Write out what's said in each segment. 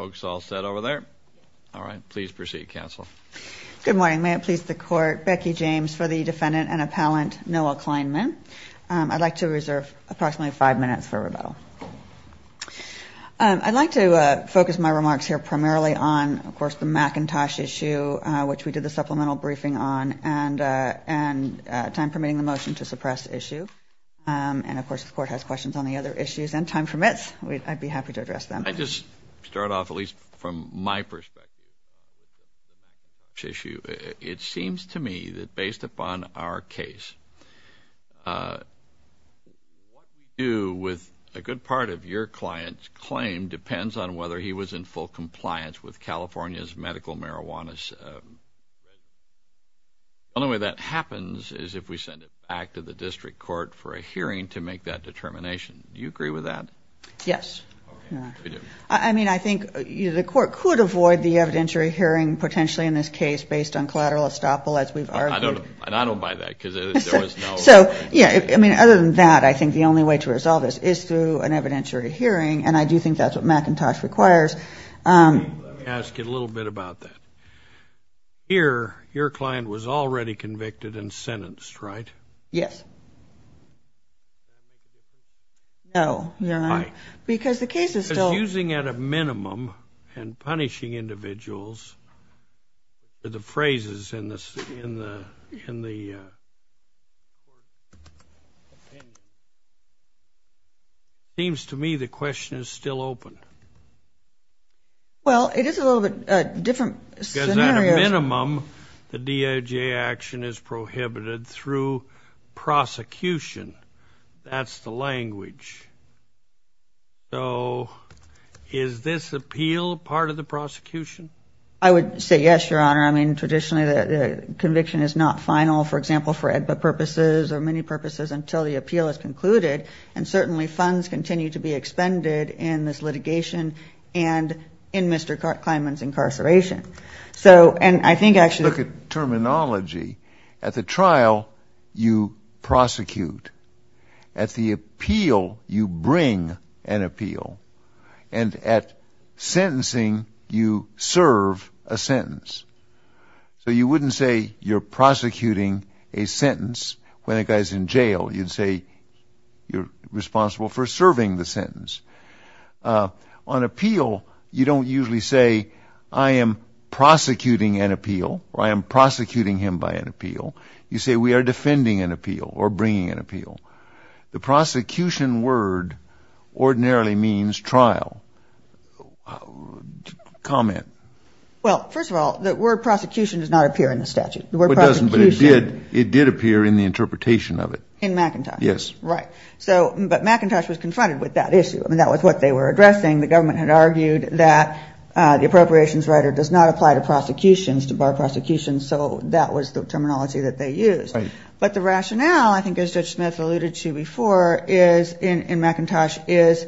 I'd like to focus my remarks here primarily on the McIntosh issue, which we did the supplemental briefing on, and time permitting the motion to suppress issue. And of course the court has questions on the other issues. And time permits, I'd be happy to take questions. Thank you. Thank you. Thank you. Thank you. Thank you. Thank you. Thank you. I'd be happy to address them. I just start off, at least from my perspective, the McIntosh issue. It seems to me that based upon our case, what you do with a good part of your client's claim depends on whether he was in full compliance with California's medical marijuana regulations. The only way that happens is if we send it back to the district court for a hearing to make that determination. Do you agree with that? Yes. I mean, I think the court could avoid the evidentiary hearing, potentially in this case, based on collateral estoppel, as we've argued. I don't buy that, because there was no— So, yeah, I mean, other than that, I think the only way to resolve this is through an evidentiary hearing, and I do think that's what McIntosh requires. Let me ask you a little bit about that. Here, your client was already convicted and sentenced, right? Yes. No. No, you're not? No. Because the case is still— Because using, at a minimum, and punishing individuals, the phrases in the court opinion, it seems to me the question is still open. Well, it is a little bit different scenario— the DOJ action is prohibited through prosecution. That's the language. So is this appeal part of the prosecution? I would say yes, Your Honor. I mean, traditionally the conviction is not final, for example, for AEDPA purposes or many purposes until the appeal is concluded, and certainly funds continue to be expended in this litigation and in Mr. Kleinman's incarceration. Look at terminology. At the trial, you prosecute. At the appeal, you bring an appeal. And at sentencing, you serve a sentence. So you wouldn't say you're prosecuting a sentence when a guy's in jail. You'd say you're responsible for serving the sentence. On appeal, you don't usually say, I am prosecuting an appeal or I am prosecuting him by an appeal. You say we are defending an appeal or bringing an appeal. The prosecution word ordinarily means trial. Comment. Well, first of all, the word prosecution does not appear in the statute. It doesn't, but it did appear in the interpretation of it. In McIntosh. Yes. Right. But McIntosh was confronted with that issue. I mean, that was what they were addressing. The government had argued that the appropriations writer does not apply to prosecutions, to bar prosecutions, so that was the terminology that they used. But the rationale, I think as Judge Smith alluded to before, in McIntosh is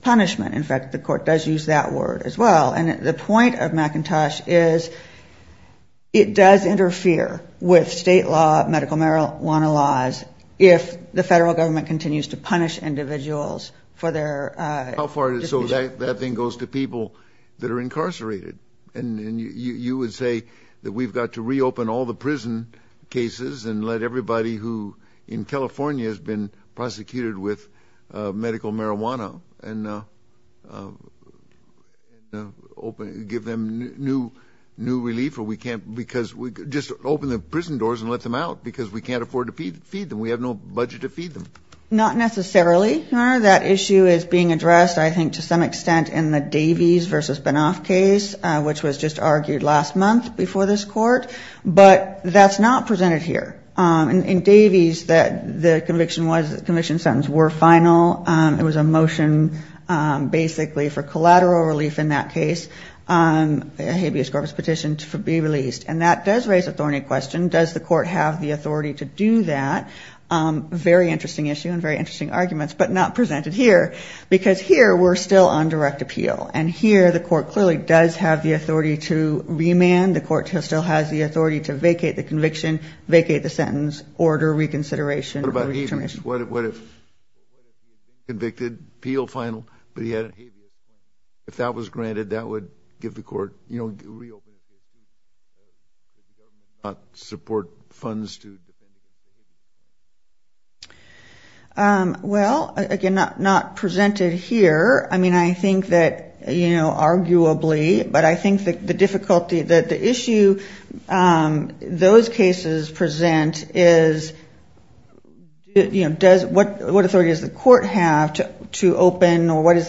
punishment. In fact, the court does use that word as well. And the point of McIntosh is it does interfere with state law, medical marijuana laws, if the federal government continues to punish individuals for their. So that thing goes to people that are incarcerated. And you would say that we've got to reopen all the prison cases and let everybody who in California has been prosecuted with medical marijuana. And give them new relief, or we can't. Because just open the prison doors and let them out, because we can't afford to feed them. We have no budget to feed them. Not necessarily, Your Honor. That issue is being addressed, I think, to some extent in the Davies v. Benoff case, which was just argued last month before this court. But that's not presented here. In Davies, the conviction sentence were final. It was a motion basically for collateral relief in that case, a habeas corpus petition to be released. And that does raise a thorny question. Does the court have the authority to do that? Very interesting issue and very interesting arguments, but not presented here. Because here we're still on direct appeal. And here the court clearly does have the authority to remand. The court still has the authority to vacate the conviction, vacate the sentence, order reconsideration. What about habeas? What if convicted, appeal final, but he had a habeas? If that was granted, that would give the court, you know, reopen the prison. Does the government not support funds to defend? Well, again, not presented here. I mean, I think that, you know, arguably. But I think the difficulty, the issue those cases present is, you know, what authority does the court have to open, or what is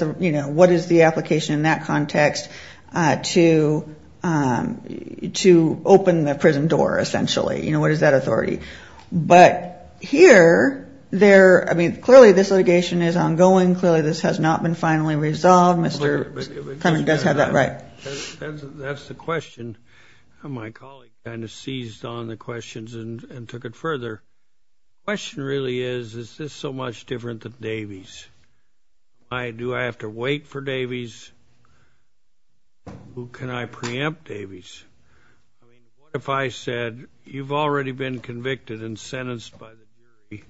the application in that context to open the prison door essentially? You know, what is that authority? But here, I mean, clearly this litigation is ongoing. Clearly this has not been finally resolved. Well, Mr. Cunningham does have that right. That's the question. My colleague kind of seized on the questions and took it further. The question really is, is this so much different than Davey's? Do I have to wait for Davey's? Who can I preempt Davey's? I mean, what if I said, you've already been convicted and sentenced by the jury.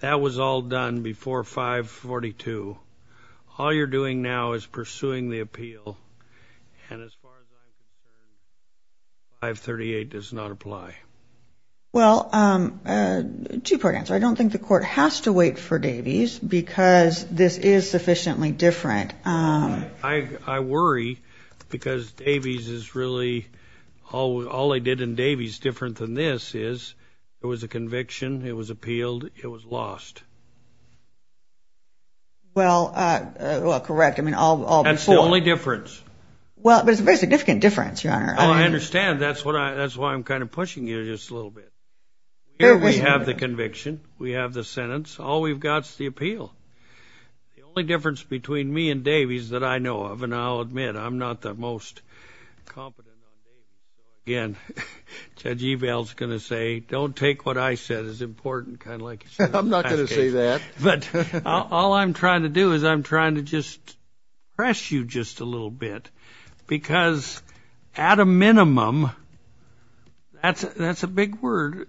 That was all done before 542. All you're doing now is pursuing the appeal. And as far as I'm concerned, 538 does not apply. Well, two-part answer. I don't think the court has to wait for Davey's because this is sufficiently different. I worry because Davey's is really all they did in Davey's different than this is there was a conviction. It was appealed. It was lost. Well, correct. I mean, all before. That's the only difference. Well, but it's a very significant difference, Your Honor. Oh, I understand. That's why I'm kind of pushing you just a little bit. Here we have the conviction. We have the sentence. All we've got is the appeal. The only difference between me and Davey's that I know of, and I'll admit I'm not the most competent on Davey's, again, Judge Evald's going to say don't take what I said as important, kind of like you said in the past case. I'm not going to say that. But all I'm trying to do is I'm trying to just press you just a little bit because at a minimum, that's a big word.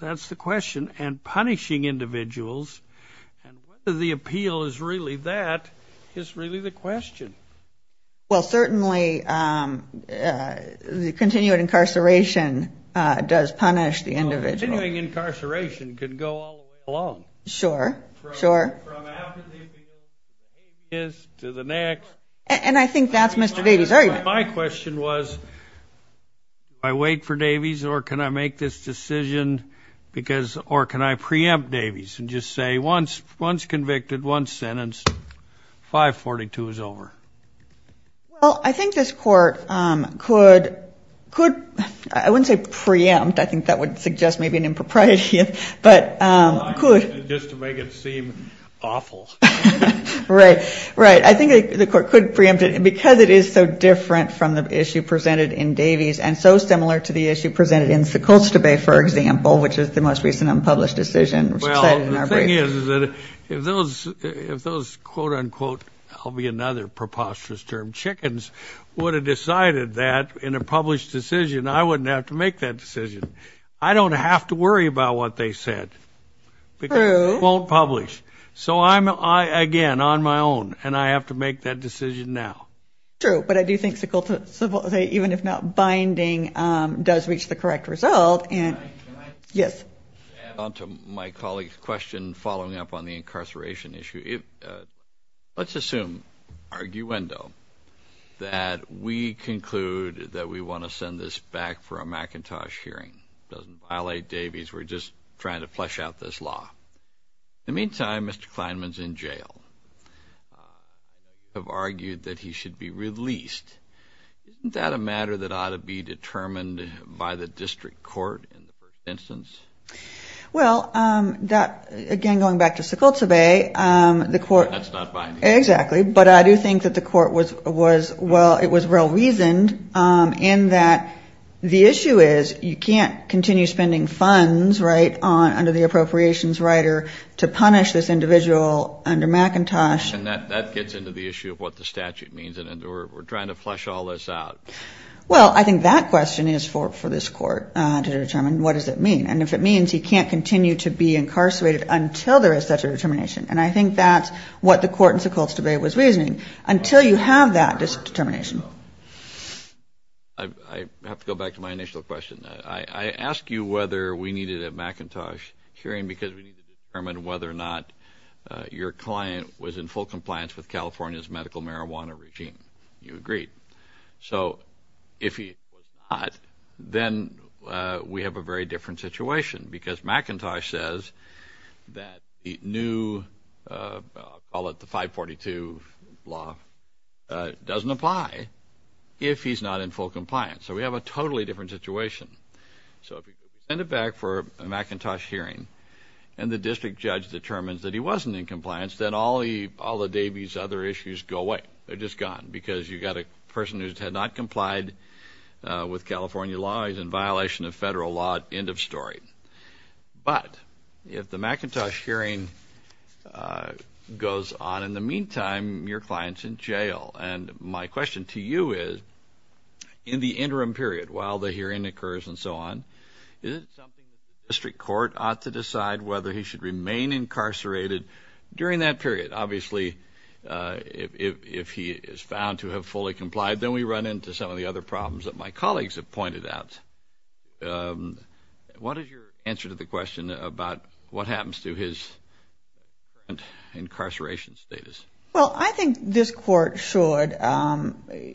That's the question. And punishing individuals and whether the appeal is really that is really the question. Well, certainly the continued incarceration does punish the individual. Continuing incarceration could go all the way along. Sure. Sure. From after the appeal to the next. And I think that's Mr. Davey's argument. My question was do I wait for Davey's or can I make this decision because or can I preempt Davey's and just say once convicted, one sentence, 542 is over? Well, I think this court could, I wouldn't say preempt. I think that would suggest maybe an impropriety, but could. Just to make it seem awful. Right, right. I think the court could preempt it because it is so different from the issue presented in Davey's and so similar to the issue presented in Sikultseve, for example, which is the most recent unpublished decision. Well, the thing is, is that if those, if those, quote, unquote, I'll be another preposterous term, chickens, would have decided that in a published decision, I wouldn't have to make that decision. I don't have to worry about what they said because it won't publish. So I'm, again, on my own and I have to make that decision now. True, but I do think Sikultseve, even if not binding, does reach the correct result. Can I add on to my colleague's question following up on the incarceration issue? Let's assume, arguendo, that we conclude that we want to send this back for a McIntosh hearing. It doesn't violate Davey's. We're just trying to flesh out this law. In the meantime, Mr. Kleinman's in jail. They've argued that he should be released. Isn't that a matter that ought to be determined by the district court in the first instance? Well, that, again, going back to Sikultseve, the court. That's not binding. Exactly, but I do think that the court was, well, it was well-reasoned in that the issue is you can't continue spending funds, right, under the appropriations rider to punish this individual under McIntosh. And that gets into the issue of what the statute means, and we're trying to flesh all this out. Well, I think that question is for this court to determine what does it mean. And if it means he can't continue to be incarcerated until there is such a determination, and I think that's what the court in Sikultseve was reasoning, until you have that determination. I have to go back to my initial question. I asked you whether we needed a McIntosh hearing because we need to determine whether or not your client was in full compliance with California's medical marijuana regime. You agreed. So if he was not, then we have a very different situation because McIntosh says that the new, I'll let the 542 law, doesn't apply if he's not in full compliance. So we have a totally different situation. So if you send it back for a McIntosh hearing and the district judge determines that he wasn't in compliance, then all the Davies' other issues go away. They're just gone because you've got a person who had not complied with California law. He's in violation of federal law, end of story. But if the McIntosh hearing goes on, in the meantime, your client's in jail. And my question to you is, in the interim period, while the hearing occurs and so on, is it something the district court ought to decide whether he should remain incarcerated during that period? Obviously, if he is found to have fully complied, then we run into some of the other problems that my colleagues have pointed out. What is your answer to the question about what happens to his incarceration status? Well, I think this court should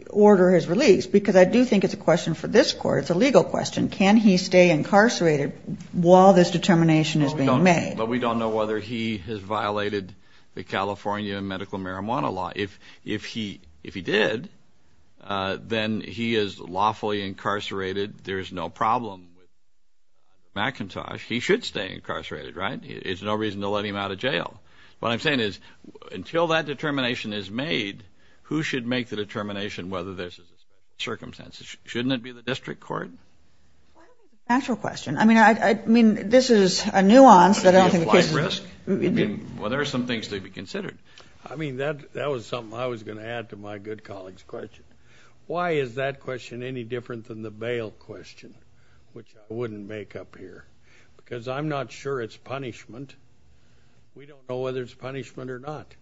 order his release because I do think it's a question for this court. It's a legal question. Can he stay incarcerated while this determination is being made? But we don't know whether he has violated the California medical marijuana law. If he did, then he is lawfully incarcerated. There is no problem with McIntosh. He should stay incarcerated, right? There's no reason to let him out of jail. What I'm saying is, until that determination is made, who should make the determination whether there's a circumstance? Shouldn't it be the district court? Why don't we do the actual question? I mean, this is a nuance that I don't think the case is— Are you applying risk? Well, there are some things to be considered. I mean, that was something I was going to add to my good colleague's question. Why is that question any different than the bail question, which I wouldn't make up here? Because I'm not sure it's punishment. We don't know whether it's punishment or not.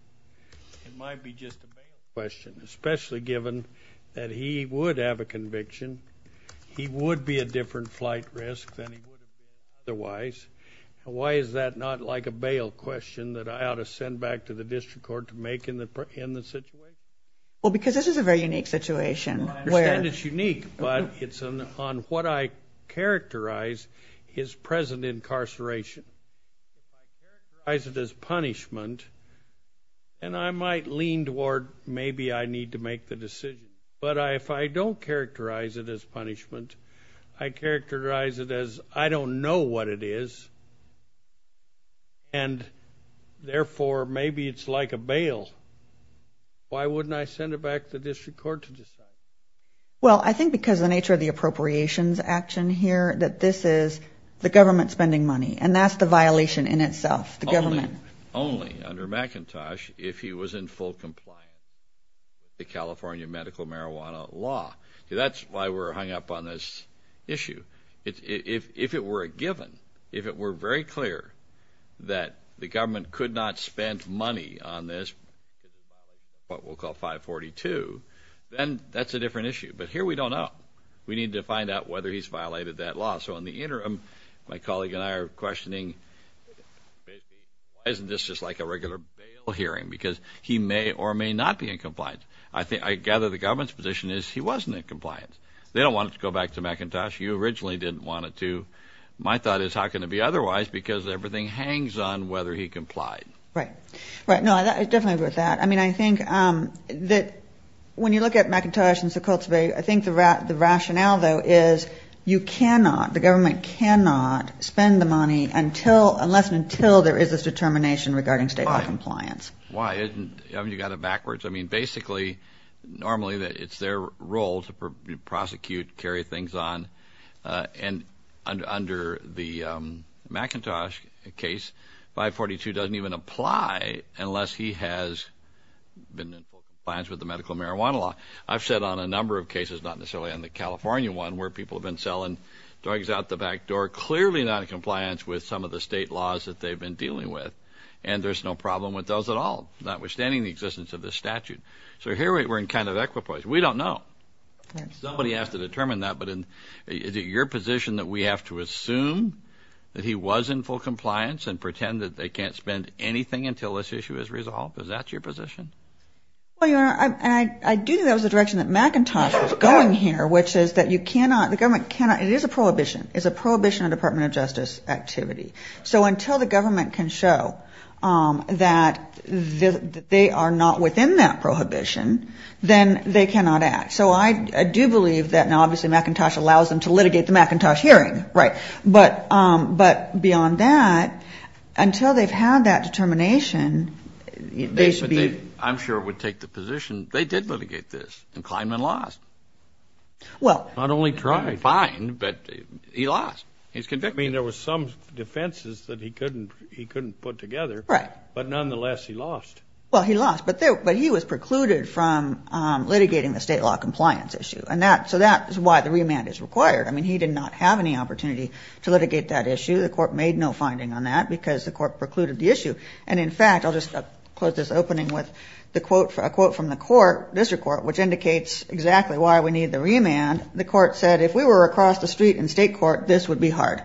It might be just a bail question, especially given that he would have a conviction. He would be a different flight risk than he would have been otherwise. Why is that not like a bail question that I ought to send back to the district court to make in the situation? Well, because this is a very unique situation. I understand it's unique, but it's on what I characterize as present incarceration. If I characterize it as punishment, then I might lean toward maybe I need to make the decision. But if I don't characterize it as punishment, I characterize it as I don't know what it is, and therefore maybe it's like a bail. Why wouldn't I send it back to the district court to decide? Well, I think because of the nature of the appropriations action here, that this is the government spending money, and that's the violation in itself, the government. Only under McIntosh if he was in full compliance with the California medical marijuana law. That's why we're hung up on this issue. If it were a given, if it were very clear that the government could not spend money on this, what we'll call 542, then that's a different issue. But here we don't know. We need to find out whether he's violated that law. So in the interim, my colleague and I are questioning why isn't this just like a regular bail hearing? Because he may or may not be in compliance. I gather the government's position is he wasn't in compliance. They don't want it to go back to McIntosh. You originally didn't want it to. My thought is how can it be otherwise because everything hangs on whether he complied. Right. Right. No, I definitely agree with that. I mean, I think that when you look at McIntosh and Sekulteve, I think the rationale, though, is you cannot, the government cannot spend the money unless and until there is this determination regarding state law compliance. Why? You got it backwards. I mean, basically, normally it's their role to prosecute, carry things on. And under the McIntosh case, 542 doesn't even apply unless he has been in compliance with the medical marijuana law. I've sat on a number of cases, not necessarily on the California one, where people have been selling drugs out the back door, clearly not in compliance with some of the state laws that they've been dealing with, and there's no problem with those at all, notwithstanding the existence of this statute. So here we're in kind of equipoise. We don't know. Somebody has to determine that. But is it your position that we have to assume that he was in full compliance and pretend that they can't spend anything until this issue is resolved? Is that your position? Well, Your Honor, I do think that was the direction that McIntosh was going here, which is that you cannot, the government cannot, it is a prohibition, it's a prohibition of Department of Justice activity. So until the government can show that they are not within that prohibition, then they cannot act. So I do believe that now obviously McIntosh allows them to litigate the McIntosh hearing. Right. But beyond that, until they've had that determination, they should be. I'm sure it would take the position they did litigate this, and Kleinman lost. Well. Not only tried. Fine, but he lost. He was convicted. I mean, there were some defenses that he couldn't put together. Right. But nonetheless, he lost. Well, he lost, but he was precluded from litigating the state law compliance issue. So that is why the remand is required. I mean, he did not have any opportunity to litigate that issue. The court made no finding on that because the court precluded the issue. And, in fact, I'll just close this opening with a quote from the court, district court, which indicates exactly why we need the remand. The court said, if we were across the street in state court, this would be hard.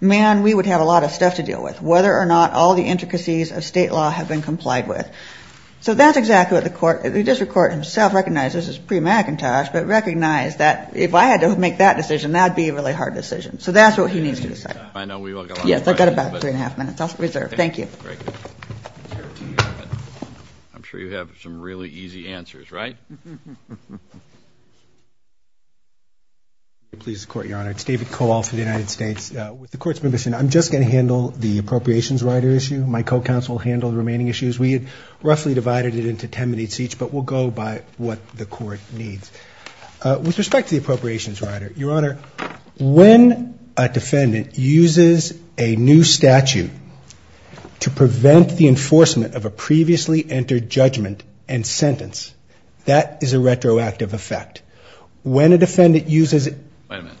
Man, we would have a lot of stuff to deal with, whether or not all the intricacies of state law have been complied with. So that's exactly what the court, the district court himself recognizes, this is pre-McIntosh, but recognized that if I had to make that decision, that would be a really hard decision. So that's what he needs to decide. I know we've got a lot of questions. Yes, I've got about three and a half minutes. I'll reserve. Thank you. Great. I'm sure you have some really easy answers, right? Please support, Your Honor. It's David Kowals from the United States. With the court's permission, I'm just going to handle the appropriations rider issue. My co-counsel handled the remaining issues. We had roughly divided it into ten minutes each, but we'll go by what the court needs. With respect to the appropriations rider, Your Honor, when a defendant uses a new statute to prevent the enforcement of a previously entered judgment and sentence, that is a retroactive effect. Wait a minute.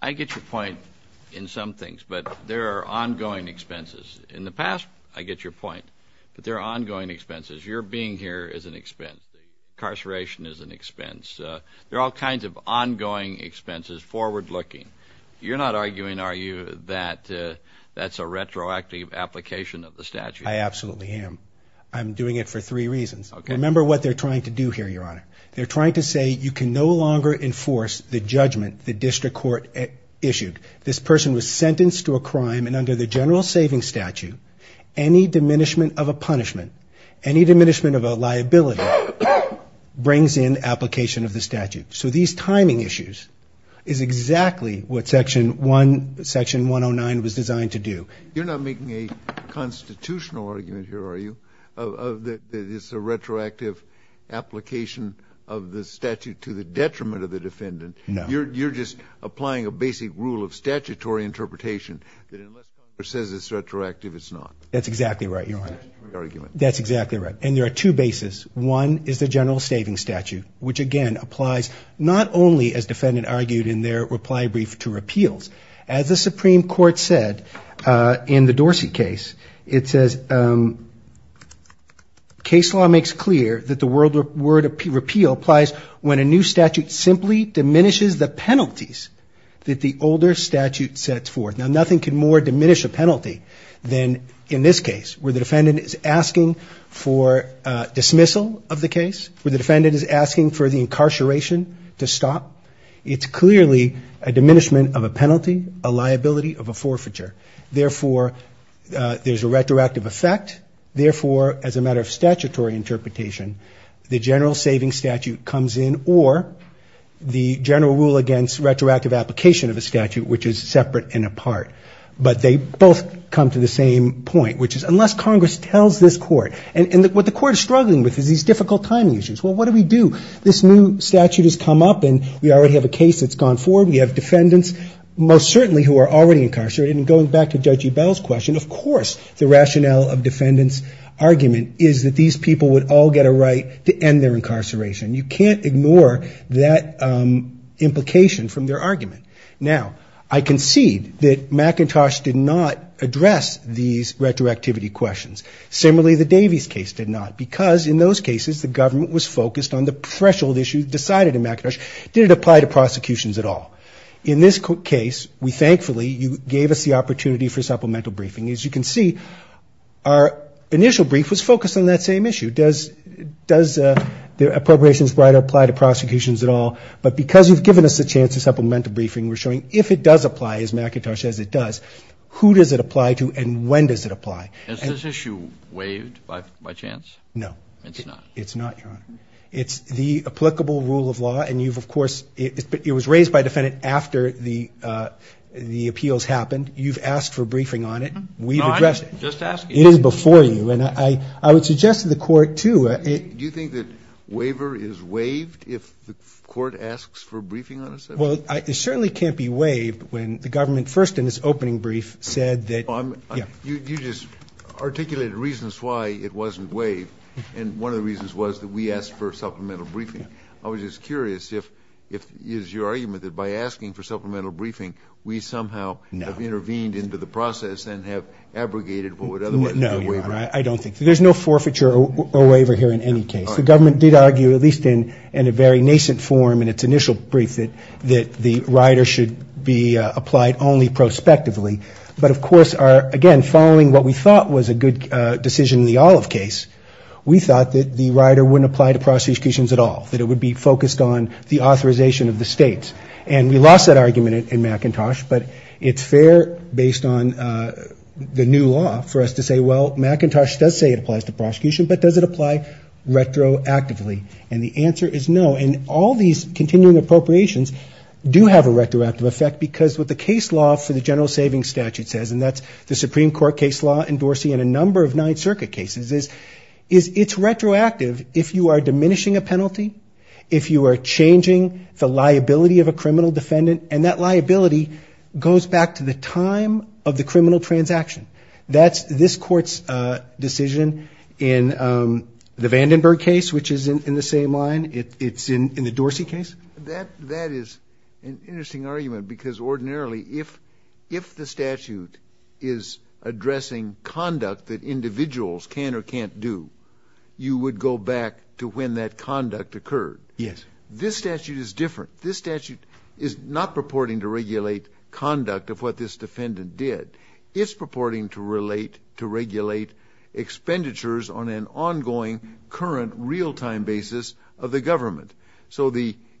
I get your point in some things, but there are ongoing expenses. In the past, I get your point, but there are ongoing expenses. Your being here is an expense. Incarceration is an expense. There are all kinds of ongoing expenses, forward-looking. You're not arguing, are you, that that's a retroactive application of the statute? I absolutely am. I'm doing it for three reasons. Remember what they're trying to do here, Your Honor. They're trying to say you can no longer enforce the judgment the district court issued. This person was sentenced to a crime, and under the general savings statute, any diminishment of a punishment, any diminishment of a liability, brings in application of the statute. So these timing issues is exactly what Section 109 was designed to do. You're not making a constitutional argument here, are you, that it's a retroactive application of the statute to the detriment of the defendant? No. You're just applying a basic rule of statutory interpretation, that unless someone says it's retroactive, it's not? That's exactly right, Your Honor. That's exactly right. And there are two bases. One is the general savings statute, which, again, applies not only, as the defendant argued in their reply brief to repeals. As the Supreme Court said in the Dorsey case, it says, case law makes clear that the word repeal applies when a new statute simply diminishes the penalties that the older statute sets forth. Now, nothing can more diminish a penalty than in this case, where the defendant is asking for dismissal of the case, where the defendant is asking for the incarceration to stop. It's clearly a diminishment of a penalty, a liability of a forfeiture. Therefore, there's a retroactive effect. Therefore, as a matter of statutory interpretation, the general savings statute comes in or the general rule against retroactive application of a statute, which is separate and apart. But they both come to the same point, which is unless Congress tells this Court. And what the Court is struggling with is these difficult timing issues. Well, what do we do? This new statute has come up, and we already have a case that's gone forward. We have defendants, most certainly, who are already incarcerated. And going back to Judge Ebell's question, of course the rationale of defendants' argument is that these people would all get a right to end their incarceration. You can't ignore that implication from their argument. Now, I concede that McIntosh did not address these retroactivity questions. Similarly, the Davies case did not, because in those cases the government was focused on the threshold issue decided in McIntosh. Did it apply to prosecutions at all? In this case, we thankfully, you gave us the opportunity for supplemental briefing. As you can see, our initial brief was focused on that same issue. Does the appropriations right apply to prosecutions at all? But because you've given us a chance to supplemental briefing, we're showing if it does apply, as McIntosh says it does, who does it apply to and when does it apply? Is this issue waived by chance? No. It's not? It's not, Your Honor. It's the applicable rule of law, and you've, of course, it was raised by a defendant after the appeals happened. You've asked for briefing on it. No, I didn't just ask it. It is before you, and I would suggest to the court, too. Do you think that waiver is waived if the court asks for briefing on a subject? Well, it certainly can't be waived when the government, first in its opening brief, said that, yeah. You just articulated reasons why it wasn't waived, and one of the reasons was that we asked for supplemental briefing. I was just curious if it is your argument that by asking for supplemental briefing, we somehow have intervened into the process and have abrogated what would otherwise be a waiver. No, Your Honor, I don't think so. There's no forfeiture or waiver here in any case. The government did argue, at least in a very nascent form in its initial brief, that the rider should be applied only prospectively. But, of course, again, following what we thought was a good decision in the Olive case, we thought that the rider wouldn't apply to prosecutions at all, that it would be focused on the authorization of the states. And we lost that argument in McIntosh, but it's fair based on the new law for us to say, well, McIntosh does say it applies to prosecution, but does it apply retroactively? And the answer is no, and all these continuing appropriations do have a retroactive effect because what the case law for the general savings statute says, and that's the Supreme Court case law in Dorsey and a number of Ninth Circuit cases, is it's retroactive if you are diminishing a penalty, if you are changing the liability of a criminal defendant, and that liability goes back to the time of the criminal transaction. That's this Court's decision in the Vandenberg case, which is in the same line. It's in the Dorsey case. That is an interesting argument because ordinarily, if the statute is addressing conduct that individuals can or can't do, you would go back to when that conduct occurred. Yes. This statute is different. This statute is not purporting to regulate conduct of what this defendant did. It's purporting to relate to regulate expenditures on an ongoing, current, real-time basis of the government. So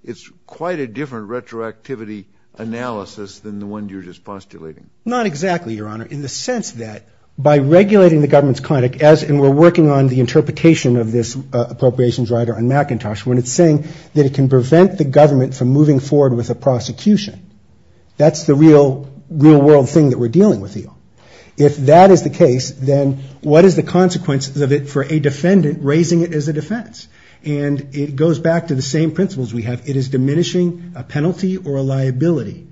it's quite a different retroactivity analysis than the one you're just postulating. Not exactly, Your Honor, in the sense that by regulating the government's conduct, and we're working on the interpretation of this appropriations rider on McIntosh, when it's saying that it can prevent the government from moving forward with a prosecution, that's the real-world thing that we're dealing with here. If that is the case, then what is the consequence of it for a defendant raising it as a defense? And it goes back to the same principles we have. It is diminishing a penalty or a liability.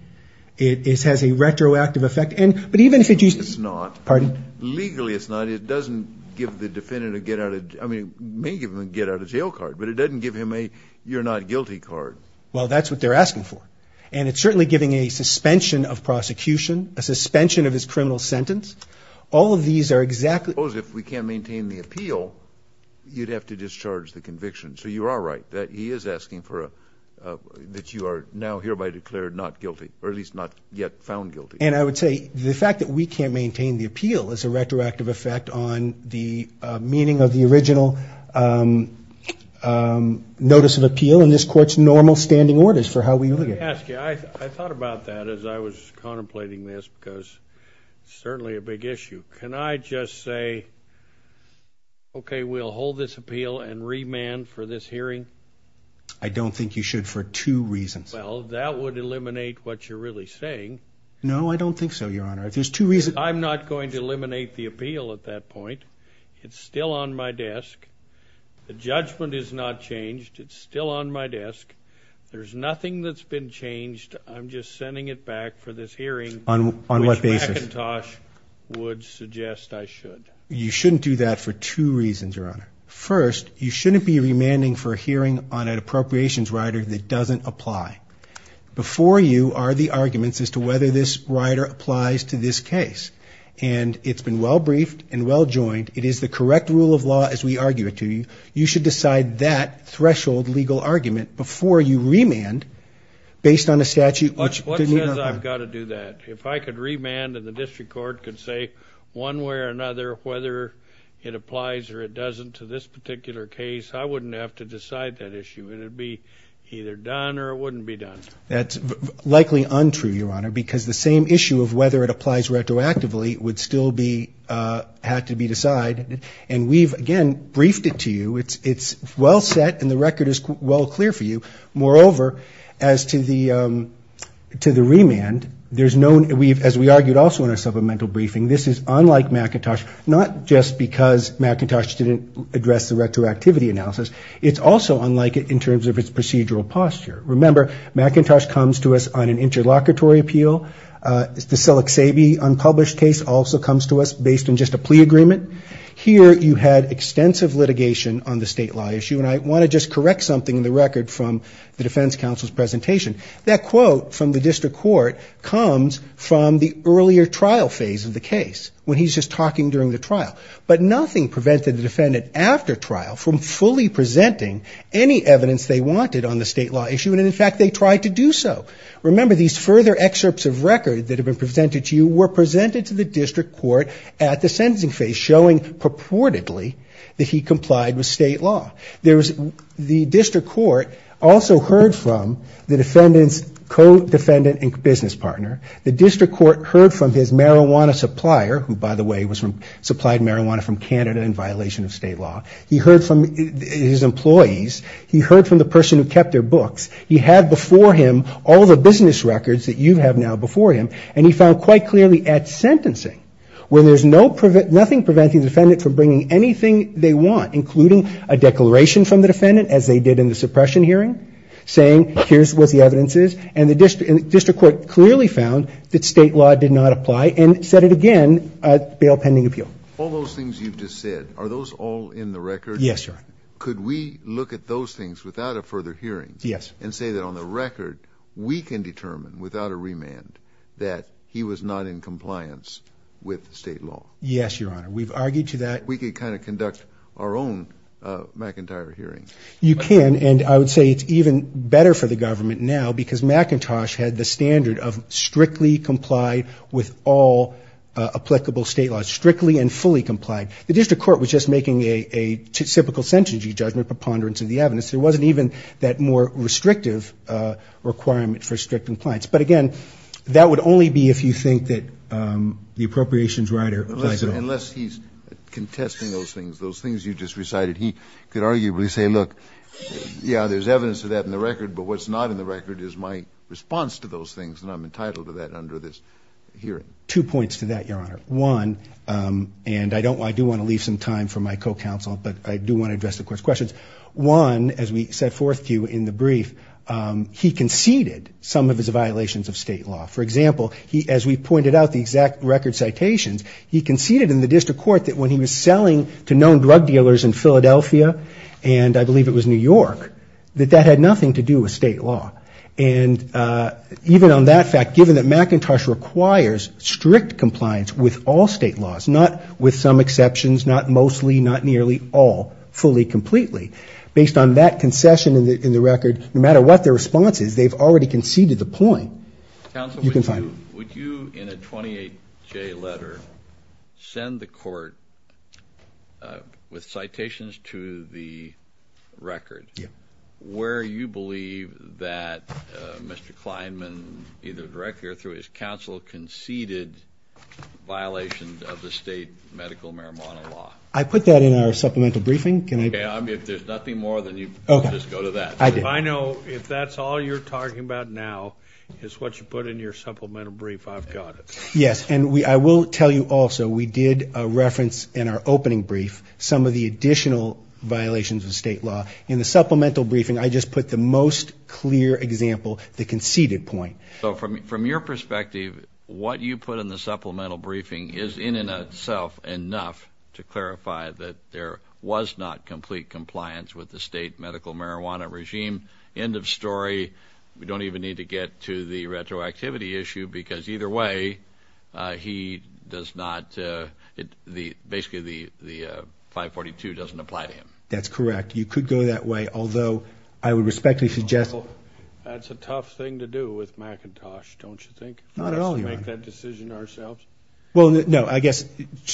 It has a retroactive effect. It's not. Pardon? Legally, it's not. It doesn't give the defendant a get-out-of-jail card. But it doesn't give him a you're-not-guilty card. Well, that's what they're asking for. And it's certainly giving a suspension of prosecution, a suspension of his criminal sentence. All of these are exactly... So you are right. He is asking that you are now hereby declared not guilty, or at least not yet found guilty. And I would say the fact that we can't maintain the appeal is a retroactive effect on the meaning of the original notice of appeal in this Court's normal standing orders for how we look at it. Let me ask you. I thought about that as I was contemplating this because it's certainly a big issue. Can I just say, okay, we'll hold this appeal and remand for this hearing? I don't think you should for two reasons. Well, that would eliminate what you're really saying. No, I don't think so, Your Honor. If there's two reasons... I'm not going to eliminate the appeal at that point. It's still on my desk. The judgment is not changed. It's still on my desk. There's nothing that's been changed. I'm just sending it back for this hearing. On what basis? Which McIntosh would suggest I should. You shouldn't do that for two reasons, Your Honor. First, you shouldn't be remanding for a hearing on an appropriations rider that doesn't apply. Before you are the arguments as to whether this rider applies to this case. And it's been well briefed and well joined. It is the correct rule of law as we argue it to you. You should decide that threshold legal argument before you remand based on a statute... What says I've got to do that? If I could remand and the district court could say one way or another whether it applies or it doesn't to this particular case... I wouldn't have to decide that issue. It would be either done or it wouldn't be done. That's likely untrue, Your Honor. Because the same issue of whether it applies retroactively would still have to be decided. And we've, again, briefed it to you. It's well set and the record is well clear for you. Moreover, as to the remand, there's no... As we argued also in our supplemental briefing, this is unlike McIntosh. Not just because McIntosh didn't address the retroactivity analysis. It's also unlike it in terms of its procedural posture. Remember, McIntosh comes to us on an interlocutory appeal. The Selleck-Sabe unpublished case also comes to us based on just a plea agreement. Here you had extensive litigation on the state law issue. And I want to just correct something in the record from the defense counsel's presentation. That quote from the district court comes from the earlier trial phase of the case when he's just talking during the trial. But nothing prevented the defendant after trial from fully presenting any evidence they wanted on the state law issue. And, in fact, they tried to do so. Remember, these further excerpts of record that have been presented to you were presented to the district court at the sentencing phase, showing purportedly that he complied with state law. The district court also heard from the defendant's co-defendant and business partner. The district court heard from his marijuana supplier, who, by the way, was from... supplied marijuana from Canada in violation of state law. He heard from his employees. He heard from the person who kept their books. He had before him all the business records that you have now before him. And he found quite clearly at sentencing where there's nothing preventing the defendant from bringing anything they want, including a declaration from the defendant, as they did in the suppression hearing, saying here's what the evidence is. And the district court clearly found that state law did not apply and said it again at bail pending appeal. All those things you've just said, are those all in the record? Yes, Your Honor. Could we look at those things without a further hearing? Yes. And say that on the record, we can determine without a remand that he was not in compliance with state law? Yes, Your Honor. We've argued to that. We could kind of conduct our own McIntyre hearing. You can. And I would say it's even better for the government now because McIntosh had the standard of strictly complied with all applicable state laws, strictly and fully complied. The district court was just making a typical sentencing judgment preponderance of the evidence. There wasn't even that more restrictive requirement for strict compliance. But, again, that would only be if you think that the appropriations writer applies at all. Unless he's contesting those things, those things you just recited, he could arguably say, look, yeah, there's evidence of that in the record, but what's not in the record is my response to those things, and I'm entitled to that under this hearing. Two points to that, Your Honor. One, and I do want to leave some time for my co-counsel, but I do want to address the court's questions. One, as we set forth to you in the brief, he conceded some of his violations of state law. For example, as we pointed out, the exact record citations, he conceded in the district court that when he was selling to known drug dealers in Philadelphia, and I believe it was New York, that that had nothing to do with state law. And even on that fact, given that McIntosh requires strict compliance with all state laws, not with some exceptions, not mostly, not nearly all, fully, completely, based on that concession in the record, no matter what their response is, they've already conceded the point. Counsel, would you in a 28-J letter send the court with citations to the record where you believe that Mr. Kleinman, either directly or through his counsel, conceded violations of the state medical marijuana law? I put that in our supplemental briefing. If there's nothing more, then you can just go to that. I know if that's all you're talking about now is what you put in your supplemental brief, I've got it. Yes, and I will tell you also we did reference in our opening brief some of the additional violations of state law. In the supplemental briefing, I just put the most clear example, the conceded point. So from your perspective, what you put in the supplemental briefing is, in and of itself, enough to clarify that there was not complete compliance with the state medical marijuana regime. End of story. We don't even need to get to the retroactivity issue because either way, he does not, basically the 542 doesn't apply to him. That's correct. You could go that way, although I would respectfully suggest. That's a tough thing to do with McIntosh, don't you think? Not at all, Your Honor. We should make that decision ourselves. Well, no, I guess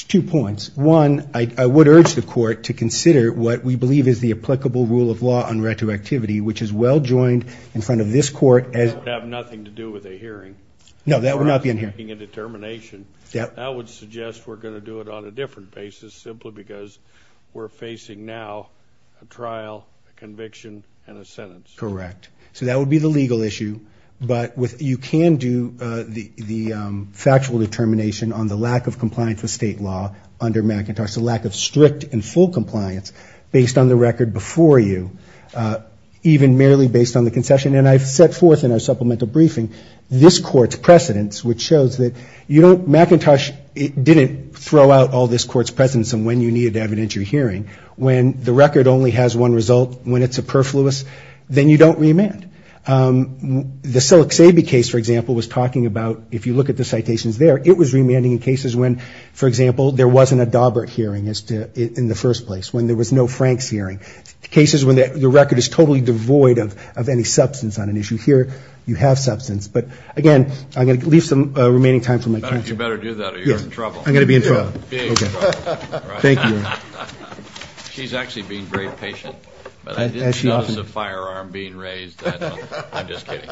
two points. One, I would urge the court to consider what we believe is the applicable rule of law on retroactivity, which is well joined in front of this court as... That would have nothing to do with a hearing. No, that would not be in here. That would suggest we're going to do it on a different basis, simply because we're facing now a trial, a conviction, and a sentence. Correct. So that would be the legal issue, but you can do the factual determination on the lack of compliance with state law under McIntosh, the lack of strict and full compliance based on the record before you, even merely based on the concession. And I've set forth in our supplemental briefing this court's precedence, which shows that McIntosh didn't throw out all this court's precedence on when you needed to evidence your hearing. When the record only has one result, when it's superfluous, then you don't remand. The Selleck-Sabe case, for example, was talking about, if you look at the citations there, it was remanding in cases when, for example, there wasn't a Daubert hearing in the first place, when there was no Franks hearing, cases when the record is totally devoid of any substance on an issue. Here you have substance. But, again, I'm going to leave some remaining time for my counsel. You better do that or you're in trouble. I'm going to be in trouble. Okay. Thank you. She's actually being very patient. I didn't notice a firearm being raised. I'm just kidding.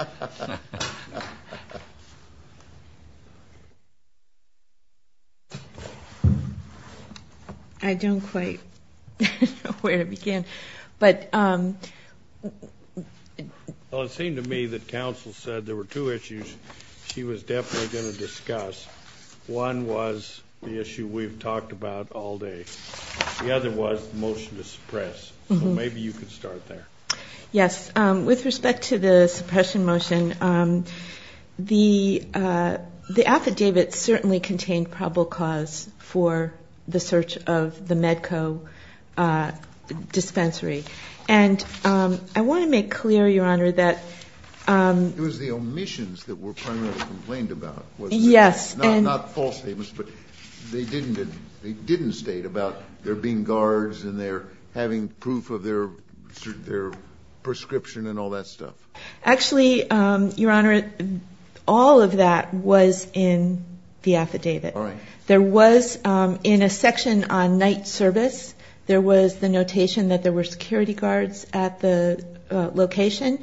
I don't quite know where to begin. Well, it seemed to me that counsel said there were two issues she was definitely going to discuss. One was the issue we've talked about all day. The other was the motion to suppress. So maybe you could start there. Yes. With respect to the suppression motion, the affidavit certainly contained probable cause for the search of the Medco dispensary. And I want to make clear, Your Honor, that ---- It was the omissions that were primarily complained about. Yes. Not false statements, but they didn't state about there being guards and their having proof of their prescription and all that stuff. Actually, Your Honor, all of that was in the affidavit. All right. There was, in a section on night service, there was the notation that there were security guards at the location.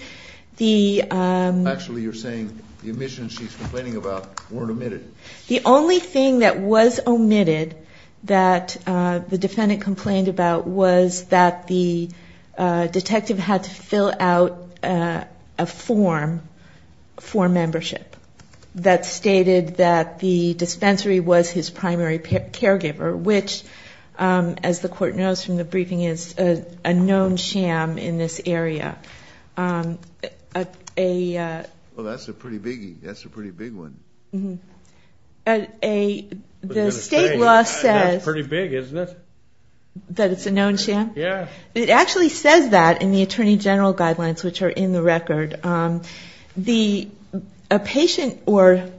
Actually, you're saying the omissions she's complaining about weren't omitted. The only thing that was omitted that the defendant complained about was that the detective had to fill out a form for membership that stated that the dispensary was his primary caregiver, which, as the court knows from the briefing, is a known sham in this area. Well, that's a pretty big one. The state law says ---- It's pretty big, isn't it? That it's a known sham? Yes. It actually says that in the Attorney General Guidelines, which are in the record. A patient or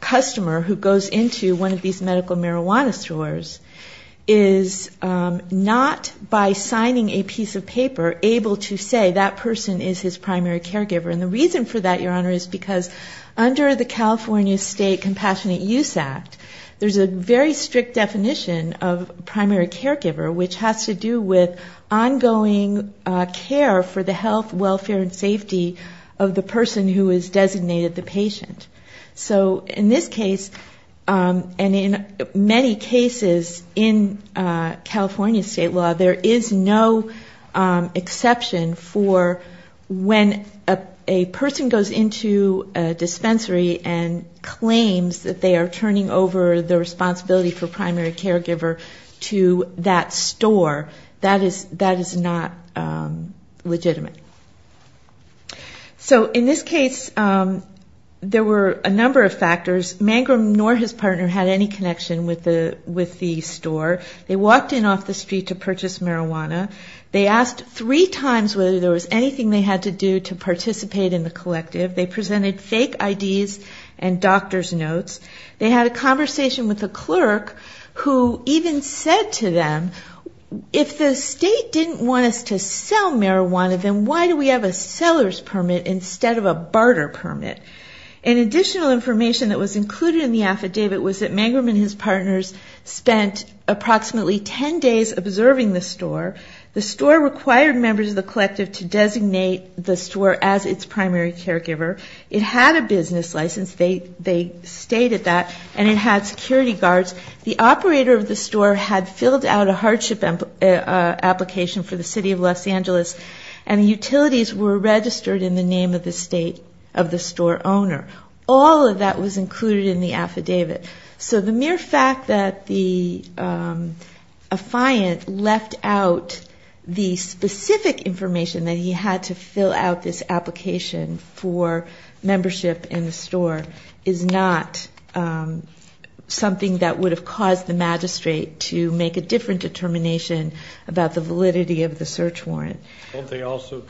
customer who goes into one of these medical marijuana stores is not, by signing a piece of paper, able to say that person is his primary caregiver. And the reason for that, Your Honor, is because under the California State Compassionate Use Act, there's a very strict definition of primary caregiver, which has to do with ongoing care for the health, welfare, and safety of the person who is designated the patient. So in this case, and in many cases in California state law, there is no exception for when a person goes into a dispensary and claims that they are turning over the responsibility for primary caregiver to that store. That is not legitimate. So in this case, there were a number of factors. Mangrum nor his partner had any connection with the store. They walked in off the street to purchase marijuana. They asked three times whether there was anything they had to do to participate in the collective. They presented fake IDs and doctor's notes. They had a conversation with a clerk who even said to them, if the state didn't want us to sell marijuana, then why do we have a seller's permit instead of a barter permit? And additional information that was included in the affidavit was that Mangrum and his partners spent approximately 10 days observing the store. The store required members of the collective to designate the store as its primary caregiver. It had a business license. They stated that. And it had security guards. The operator of the store had filled out a hardship application for the city of Los Angeles, and utilities were registered in the name of the state of the store owner. All of that was included in the affidavit. So the mere fact that the affiant left out the specific information that he had to fill out this application for membership in the store is not something that would have caused the magistrate to make a different determination about the validity of the search warrant. Don't they also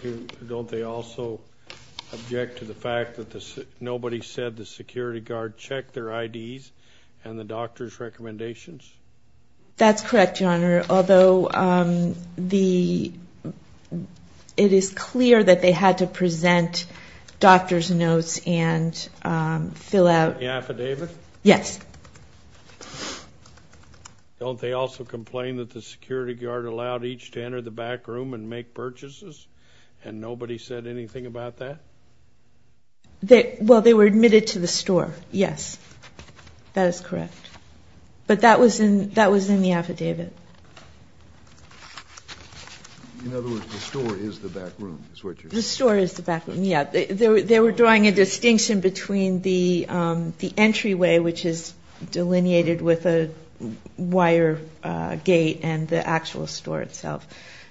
object to the fact that nobody said the security guard checked their IDs and the doctor's recommendations? That's correct, Your Honor, although it is clear that they had to present doctor's notes and fill out the affidavit. Yes. Don't they also complain that the security guard allowed each to enter the back room and make purchases and nobody said anything about that? Well, they were admitted to the store, yes. That is correct. But that was in the affidavit. In other words, the store is the back room, is what you're saying? The store is the back room, yeah. They were drawing a distinction between the entryway, which is delineated with a wire gate, and the actual store itself.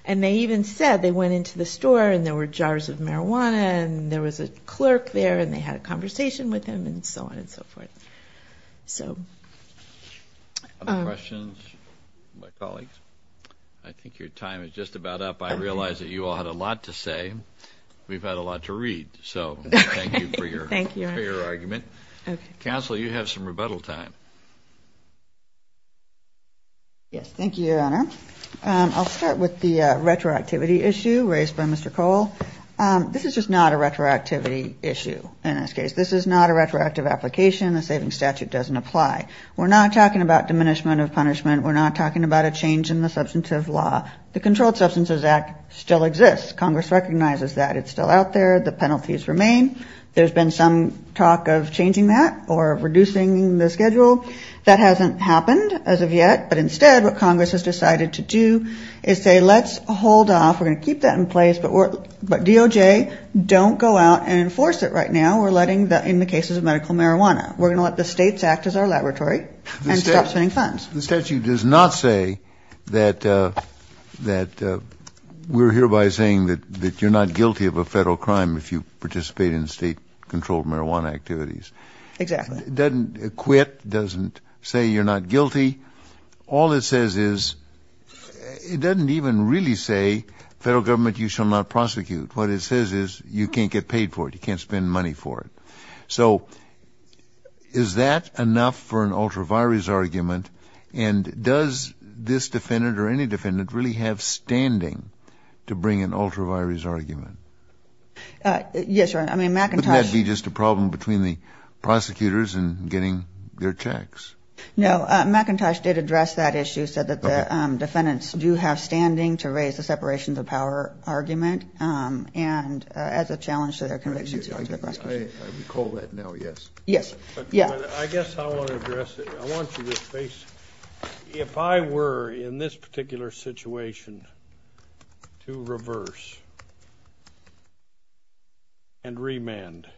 And they even said they went into the store and there were jars of marijuana and there was a clerk there and they had a conversation with him and so on and so forth. Other questions from my colleagues? I think your time is just about up. I realize that you all had a lot to say. We've had a lot to read, so thank you for your argument. Counsel, you have some rebuttal time. Thank you, Your Honor. I'll start with the retroactivity issue raised by Mr. Cole. This is just not a retroactivity issue in this case. This is not a retroactive application. The saving statute doesn't apply. We're not talking about diminishment of punishment. We're not talking about a change in the substantive law. The Controlled Substances Act still exists. Congress recognizes that. It's still out there. The penalties remain. There's been some talk of changing that or reducing the schedule. That hasn't happened as of yet, but instead what Congress has decided to do is say let's hold off. We're going to keep that in place, but DOJ, don't go out and enforce it right now. We're letting the cases of medical marijuana. We're going to let the states act as our laboratory and stop spending funds. The statute does not say that we're hereby saying that you're not guilty of a federal crime if you participate in state-controlled marijuana activities. Exactly. It doesn't quit. It doesn't say you're not guilty. All it says is it doesn't even really say, federal government, you shall not prosecute. What it says is you can't get paid for it. You can't spend money for it. So is that enough for an ultra-virus argument, and does this defendant or any defendant really have standing to bring an ultra-virus argument? Yes, Your Honor. I mean McIntosh. Wouldn't that be just a problem between the prosecutors and getting their checks? No, McIntosh did address that issue, said that the defendants do have standing to raise the separation of power argument and as a challenge to their convictions. I recall that now, yes. Yes. Yeah. I guess I want to address it. I want you to face it. If I were in this particular situation to reverse and remand, it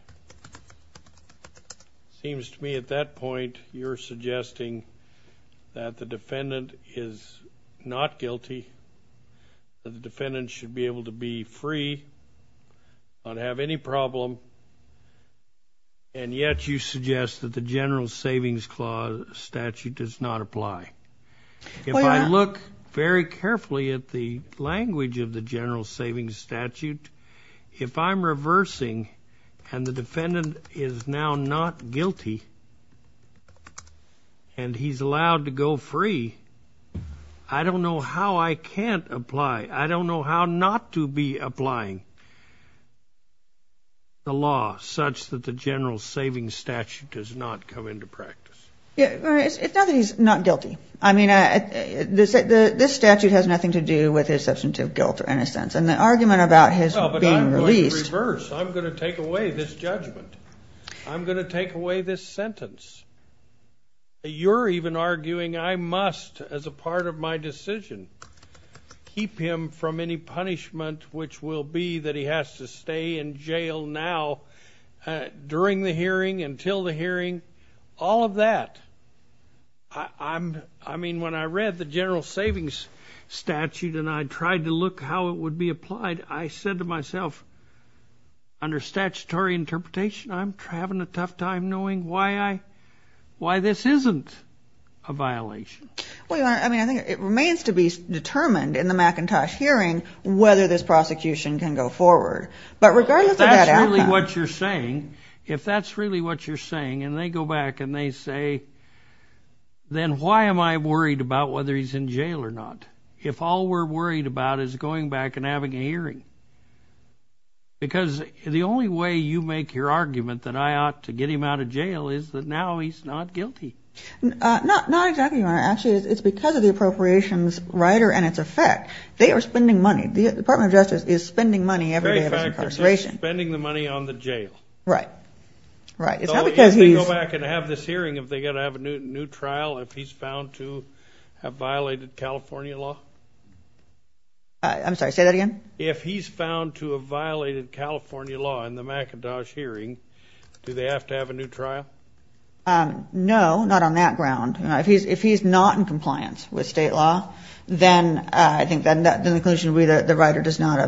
seems to me at that point you're suggesting that the defendant is not guilty, that the defendant should be able to be free, not have any problem, and yet you suggest that the General Savings Statute does not apply. If I look very carefully at the language of the General Savings Statute, if I'm reversing and the defendant is now not guilty and he's allowed to go free, I don't know how I can't apply, I don't know how not to be applying the law such that the General Savings Statute does not come into practice. It's not that he's not guilty. I mean this statute has nothing to do with his substantive guilt or innocence, and the argument about his being released. Well, but I'm going to reverse. I'm going to take away this judgment. I'm going to take away this sentence. You're even arguing I must, as a part of my decision, keep him from any punishment which will be that he has to stay in jail now during the hearing, until the hearing, all of that. I mean when I read the General Savings Statute and I tried to look how it would be applied, I said to myself, under statutory interpretation, I'm having a tough time knowing why this isn't a violation. Well, Your Honor, I mean I think it remains to be determined in the McIntosh hearing whether this prosecution can go forward. But regardless of that outcome. If that's really what you're saying, if that's really what you're saying, and they go back and they say, then why am I worried about whether he's in jail or not, if all we're worried about is going back and having a hearing? Because the only way you make your argument that I ought to get him out of jail is that now he's not guilty. Not exactly, Your Honor. Actually, it's because of the appropriations rider and its effect. They are spending money. The Department of Justice is spending money every day of his incarceration. In fact, they're spending the money on the jail. Right. Right. So if they go back and have this hearing, if they're going to have a new trial, if he's found to have violated California law? I'm sorry, say that again? If he's found to have violated California law in the McIntosh hearing, do they have to have a new trial? No, not on that ground. If he's not in compliance with state law, then I think the conclusion would be the rider does not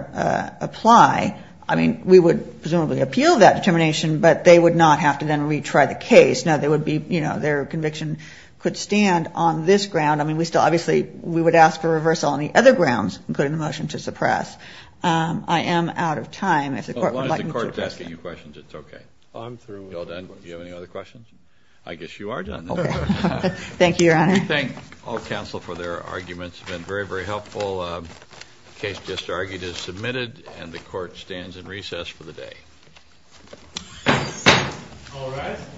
apply. I mean, we would presumably appeal that determination, but they would not have to then retry the case. Now, their conviction could stand on this ground. I mean, we still obviously would ask for reversal on the other grounds, including the motion to suppress. I am out of time. As long as the court is asking you questions, it's okay. I'm through. You all done? Do you have any other questions? I guess you are done. Okay. Thank you, Your Honor. We thank all counsel for their arguments. It's been very, very helpful. The case just argued is submitted, and the court stands in recess for the day. All rise.